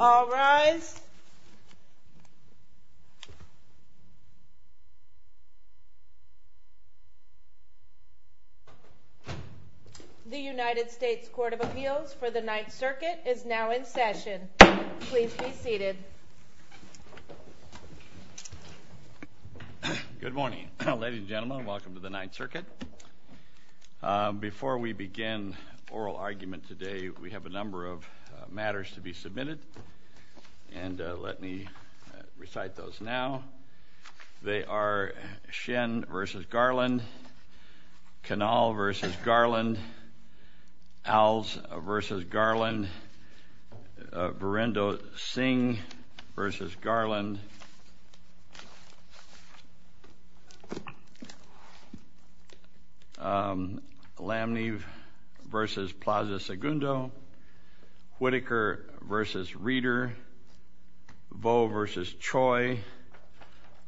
All rise. The United States Court of Appeals for the Ninth Circuit is now in session. Please be seated. Good morning. Ladies and gentlemen, welcome to the Ninth Circuit. Before we begin oral argument today, we have a number of matters to be submitted, and let me recite those now. They are Shen v. Garland, Cannell v. Garland, Owls v. Garland, Virendo Singh v. Garland, Lamnev v. Plaza-Segundo, Whitaker v. Reeder, Voe v. Choi,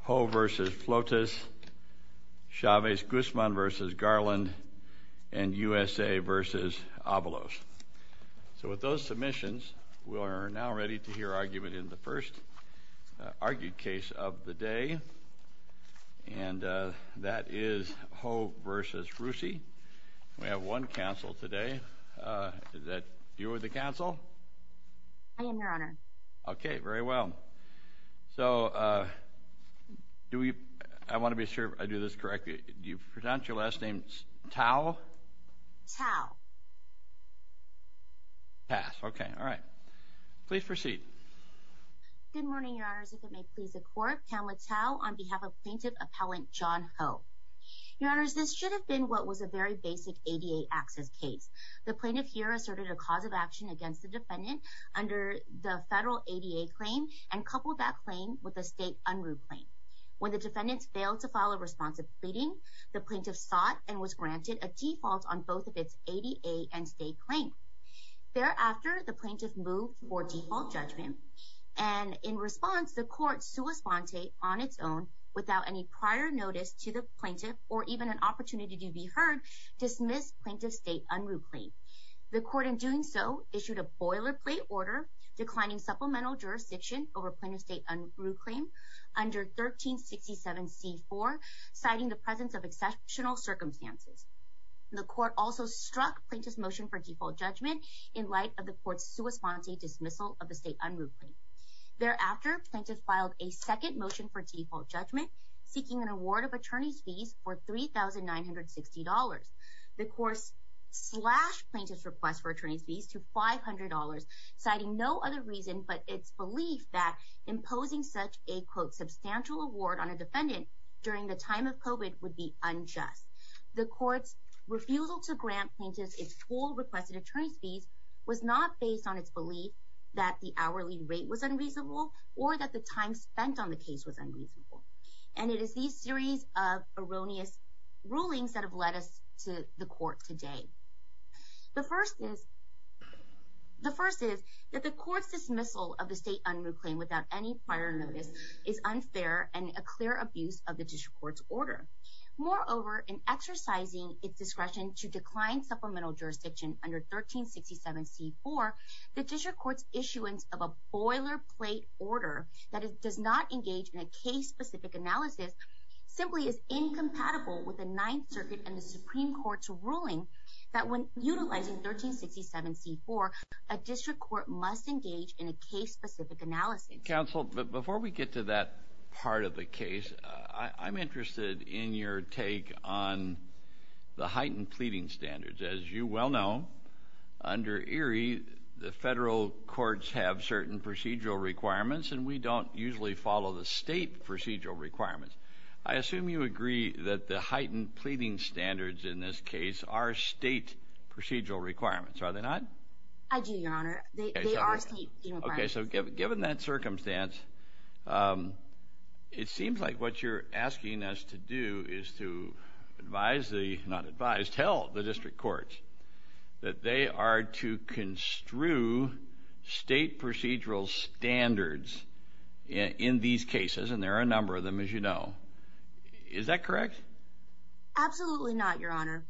Ho v. Flotis, Chavez-Guzman v. Garland, and USA v. Avalos. So with those submissions, we are now ready to hear argument in the first argued case of the day, and that is Ho v. Russi. We have one counsel today. Is that you, the counsel? I am, Your Honor. Okay, very well. So I want to be sure I do this correctly. Do you pronounce your last name Tao? Tao. Pass. Okay, all right. Please proceed. Good morning, Your Honors. If it may please the Court, Pamela Tao on behalf of Plaintiff Appellant John Ho. Your Honors, this should have been what was a very basic ADA access case. The plaintiff here asserted a cause of action against the defendant under the federal ADA claim and coupled that claim with a state unruh claim. When the defendants failed to follow responsive pleading, the plaintiff sought and was granted a default on both of its ADA and state claims. Thereafter, the plaintiff moved for default judgment. And in response, the court, sua sponte, on its own, without any prior notice to the plaintiff or even an opportunity to be heard, dismissed plaintiff's state unruh claim. The court, in doing so, issued a boilerplate order declining supplemental jurisdiction over plaintiff's state unruh claim under 1367C4, citing the presence of exceptional circumstances. The court also struck plaintiff's motion for default judgment in light of the court's sua sponte dismissal of the state unruh claim. Thereafter, plaintiff filed a second motion for default judgment, seeking an award of attorney's fees for $3,960. The court slashed plaintiff's request for attorney's fees to $500, citing no other reason but its belief that imposing such a, quote, substantial award on a defendant during the time of COVID would be unjust. The court's refusal to grant plaintiff's full requested attorney's fees was not based on its belief that the hourly rate was unreasonable or that the time spent on the case was unreasonable. And it is these series of erroneous rulings that have led us to the court today. The first is that the court's dismissal of the state unruh claim without any prior notice is unfair and a clear abuse of the district court's order. Moreover, in exercising its discretion to decline supplemental jurisdiction under 1367C4, the district court's issuance of a boilerplate order that it does not engage in a case-specific analysis simply is incompatible with the Ninth Circuit and the Supreme Court's ruling that when utilizing 1367C4, a district court must engage in a case-specific analysis. Counsel, before we get to that part of the case, I'm interested in your take on the heightened pleading standards. As you well know, under ERIE, the federal courts have certain procedural requirements, and we don't usually follow the state procedural requirements. I assume you agree that the heightened pleading standards in this case are state procedural requirements, are they not? I do, Your Honor. They are state requirements. Okay, so given that circumstance, it seems like what you're asking us to do is to tell the district courts that they are to construe state procedural standards in these cases, and there are a number of them, as you know. Is that correct? Absolutely not, Your Honor.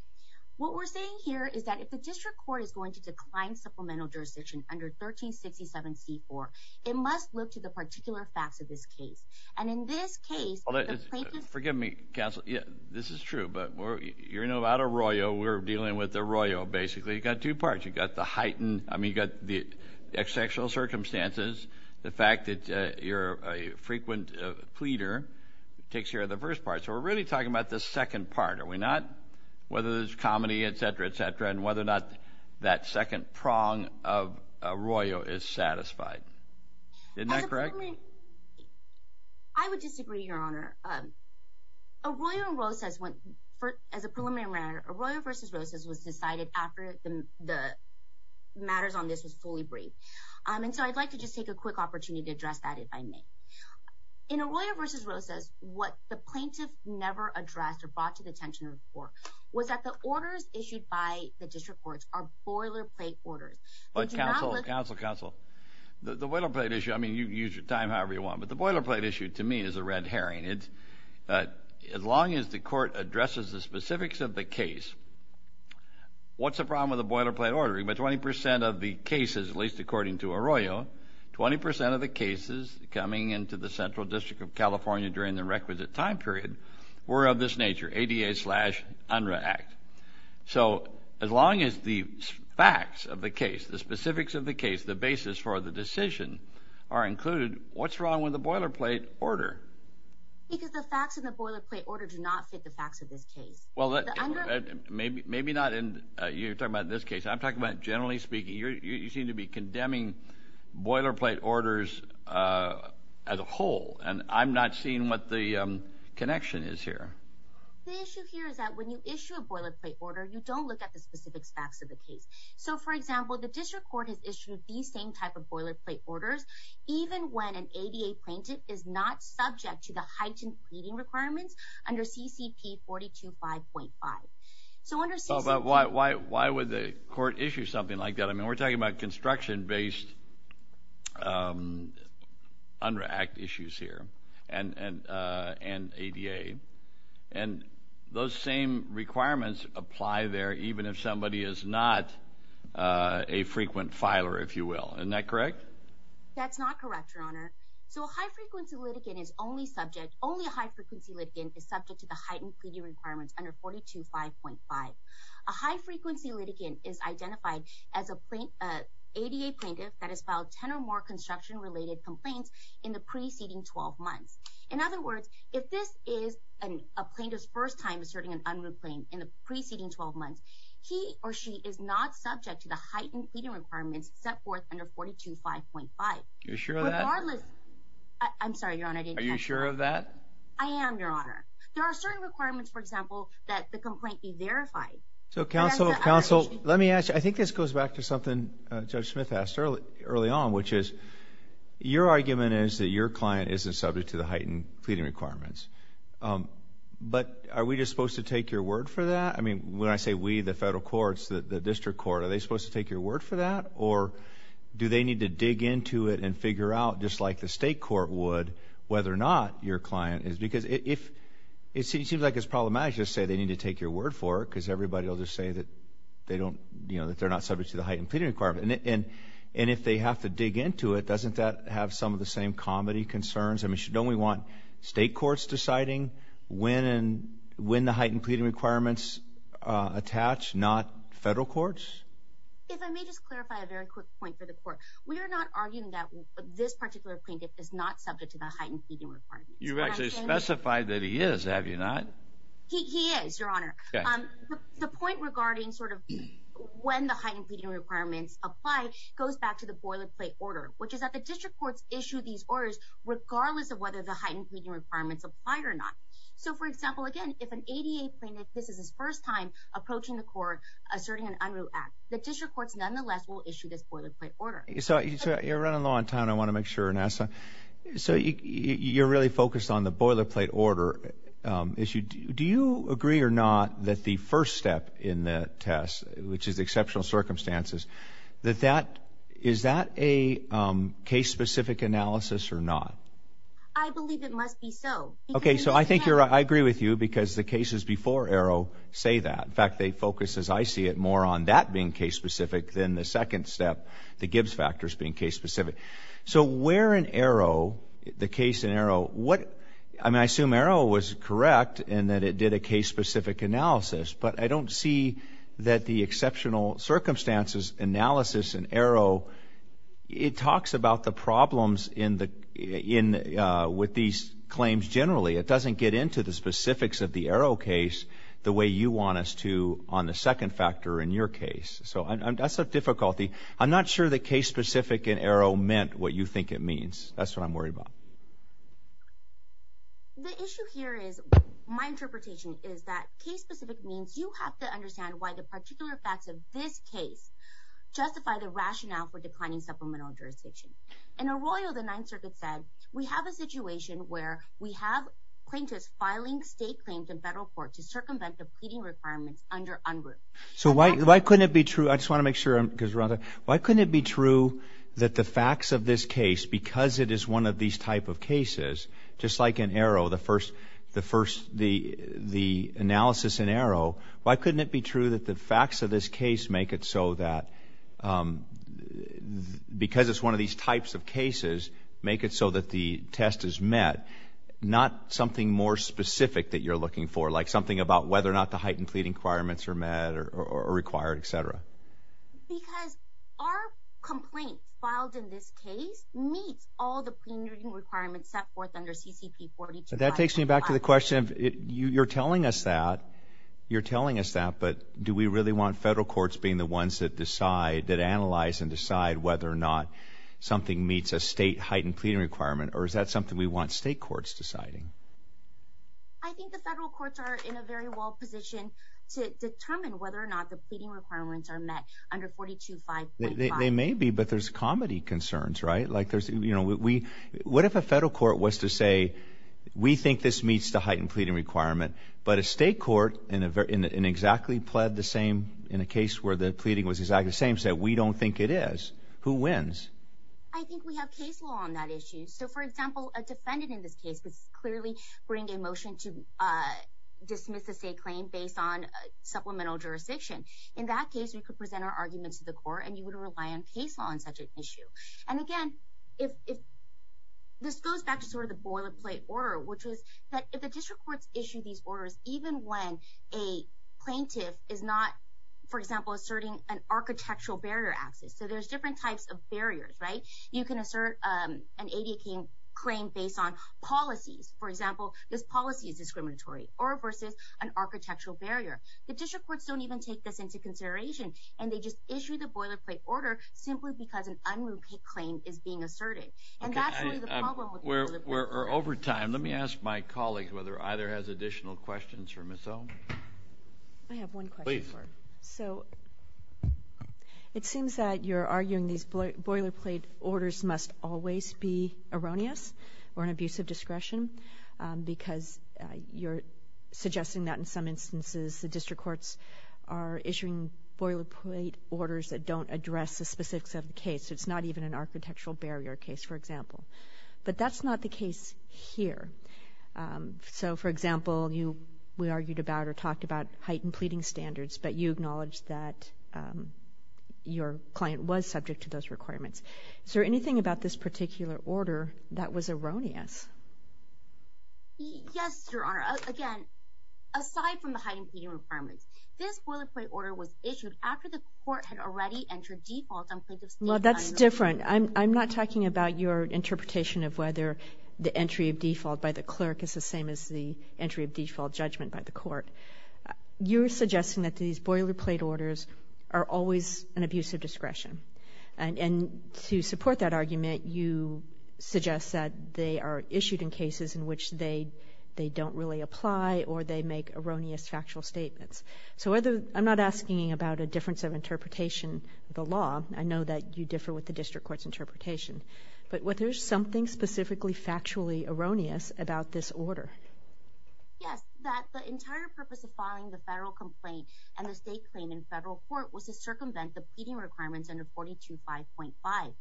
What we're saying here is that if the district court is going to decline supplemental jurisdiction under 1367C4, it must look to the particular facts of this case. And in this case, the plaintiff… So we're really talking about this second part, are we not? Whether there's comedy, etc., etc., and whether or not that second prong of Arroyo is satisfied. Isn't that correct? I would disagree, Your Honor. Arroyo vs. Rosas was decided after the matters on this was fully briefed, and so I'd like to just take a quick opportunity to address that, if I may. In Arroyo vs. Rosas, what the plaintiff never addressed or brought to the attention of the court was that the orders issued by the district courts are boilerplate orders. But counsel, counsel, counsel, the boilerplate issue, I mean, you can use your time however you want, but the boilerplate issue, to me, is a red herring. As long as the court addresses the specifics of the case, what's the problem with the boilerplate order? About 20 percent of the cases, at least according to Arroyo, 20 percent of the cases coming into the Central District of California during the requisite time period were of this nature, ADA slash UNRRA Act. So as long as the facts of the case, the specifics of the case, the basis for the decision are included, what's wrong with the boilerplate order? Because the facts in the boilerplate order do not fit the facts of this case. Well, maybe not in – you're talking about this case. I'm talking about generally speaking. You seem to be condemning boilerplate orders as a whole, and I'm not seeing what the connection is here. The issue here is that when you issue a boilerplate order, you don't look at the specific facts of the case. So, for example, the district court has issued these same type of boilerplate orders even when an ADA plaintiff is not subject to the heightened pleading requirements under CCP 425.5. But why would the court issue something like that? I mean, we're talking about construction-based UNRRA Act issues here and ADA. And those same requirements apply there even if somebody is not a frequent filer, if you will. Isn't that correct? That's not correct, Your Honor. So a high-frequency litigant is only subject – only a high-frequency litigant is subject to the heightened pleading requirements under 425.5. A high-frequency litigant is identified as an ADA plaintiff that has filed 10 or more construction-related complaints in the preceding 12 months. In other words, if this is a plaintiff's first time asserting an UNRRA claim in the preceding 12 months, he or she is not subject to the heightened pleading requirements set forth under 425.5. Regardless – I'm sorry, Your Honor, I didn't catch that. Are you sure of that? I am, Your Honor. There are certain requirements, for example, that the complaint be verified. So, counsel, counsel, let me ask you – I think this goes back to something Judge Smith asked early on, which is your argument is that your client isn't subject to the heightened pleading requirements. But are we just supposed to take your word for that? I mean, when I say we, the federal courts, the district court, are they supposed to take your word for that? Or do they need to dig into it and figure out, just like the state court would, whether or not your client is – because it seems like it's problematic to just say they need to take your word for it because everybody will just say that they're not subject to the heightened pleading requirements. And if they have to dig into it, doesn't that have some of the same comedy concerns? I mean, don't we want state courts deciding when the heightened pleading requirements attach, not federal courts? If I may just clarify a very quick point for the court. We are not arguing that this particular plaintiff is not subject to the heightened pleading requirements. You've actually specified that he is, have you not? He is, Your Honor. The point regarding sort of when the heightened pleading requirements apply goes back to the boilerplate order, which is that the district courts issue these orders regardless of whether the heightened pleading requirements apply or not. So, for example, again, if an ADA plaintiff, this is his first time approaching the court asserting an unruh act, the district courts nonetheless will issue this boilerplate order. So you're running low on time. I want to make sure and ask something. So you're really focused on the boilerplate order issue. Do you agree or not that the first step in the test, which is exceptional circumstances, that that, is that a case-specific analysis or not? I believe it must be so. Okay. So I think you're right. I agree with you because the cases before ARO say that. In fact, they focus, as I see it, more on that being case-specific than the second step, the Gibbs factors being case-specific. So where in ARO, the case in ARO, what, I mean, I assume ARO was correct in that it did a case-specific analysis, but I don't see that the exceptional circumstances analysis in ARO, it talks about the problems with these claims generally. It doesn't get into the specifics of the ARO case the way you want us to on the second factor in your case. So that's a difficulty. I'm not sure that case-specific in ARO meant what you think it means. That's what I'm worried about. The issue here is my interpretation is that case-specific means you have to understand why the particular facts of this case justify the rationale for declining supplemental jurisdiction. In ARO, the Ninth Circuit said, we have a situation where we have plaintiffs filing state claims in federal court to circumvent the pleading requirements under UNRU. So why couldn't it be true? I just want to make sure because we're on time. Why couldn't it be true that the facts of this case, because it is one of these type of cases, just like in ARO, the analysis in ARO, why couldn't it be true that the facts of this case make it so that because it's one of these types of cases, make it so that the test is met, not something more specific that you're looking for, like something about whether or not the heightened pleading requirements are met or required, etc.? Because our complaint filed in this case meets all the pleading requirements set forth under CCP 42.5. That takes me back to the question of you're telling us that. You're telling us that, but do we really want federal courts being the ones that decide, that analyze and decide whether or not something meets a state heightened pleading requirement, or is that something we want state courts deciding? I think the federal courts are in a very well position to determine whether or not the pleading requirements are met under 42.5. They may be, but there's comedy concerns, right? Like there's, you know, what if a federal court was to say, we think this meets the heightened pleading requirement, but a state court in exactly the same, in a case where the pleading was exactly the same, so we don't think it is, who wins? I think we have case law on that issue. So, for example, a defendant in this case would clearly bring a motion to dismiss a state claim based on supplemental jurisdiction. In that case, we could present our argument to the court, and you would rely on case law on such an issue. And again, this goes back to sort of the boilerplate order, which is that if the district courts issue these orders, even when a plaintiff is not, for example, asserting an architectural barrier access, so there's different types of barriers, right? You can assert an ADA claim based on policies. For example, this policy is discriminatory, or versus an architectural barrier. The district courts don't even take this into consideration, and they just issue the boilerplate order simply because an unruly claim is being asserted. And that's really the problem with the boilerplate order. Over time, let me ask my colleagues whether either has additional questions for Ms. Ohm. I have one question for her. Please. It seems that you're arguing these boilerplate orders must always be erroneous or an abuse of discretion because you're suggesting that in some instances the district courts are issuing boilerplate orders that don't address the specifics of the case. It's not even an architectural barrier case, for example. But that's not the case here. So, for example, we argued about or talked about heightened pleading standards, but you acknowledged that your client was subject to those requirements. Is there anything about this particular order that was erroneous? Yes, Your Honor. Again, aside from the heightened pleading requirements, this boilerplate order was issued after the court had already entered default on plaintiff's claim. Well, that's different. I'm not talking about your interpretation of whether the entry of default by the clerk is the same as the entry of default judgment by the court. You're suggesting that these boilerplate orders are always an abuse of discretion. And to support that argument, you suggest that they are issued in cases in which they don't really apply or they make erroneous factual statements. So I'm not asking about a difference of interpretation of the law. I know that you differ with the district court's interpretation. But was there something specifically factually erroneous about this order? Yes, that the entire purpose of filing the federal complaint and the state claim in federal court was to circumvent the pleading requirements under 425.5.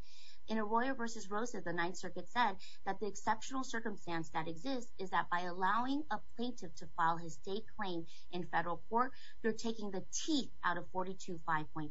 In Arroyo v. Rosa, the Ninth Circuit said that the exceptional circumstance that exists is that by allowing a plaintiff to file his state claim in federal court, they're taking the teeth out of 425.5.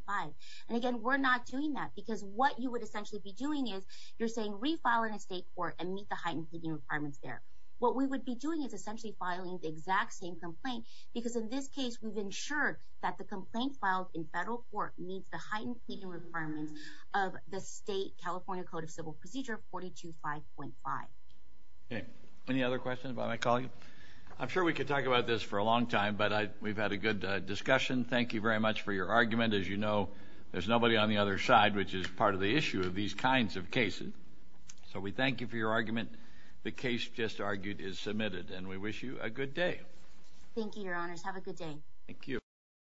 And again, we're not doing that because what you would essentially be doing is you're saying refile in a state court and meet the heightened pleading requirements there. What we would be doing is essentially filing the exact same complaint because in this case we've ensured that the complaint filed in federal court meets the heightened pleading requirements of the state California Code of Civil Procedure 425.5. Any other questions about my colleague? I'm sure we could talk about this for a long time, but we've had a good discussion. Thank you very much for your argument. As you know, there's nobody on the other side, which is part of the issue of these kinds of cases. So we thank you for your argument. The case just argued is submitted, and we wish you a good day. Thank you, Your Honors. Have a good day.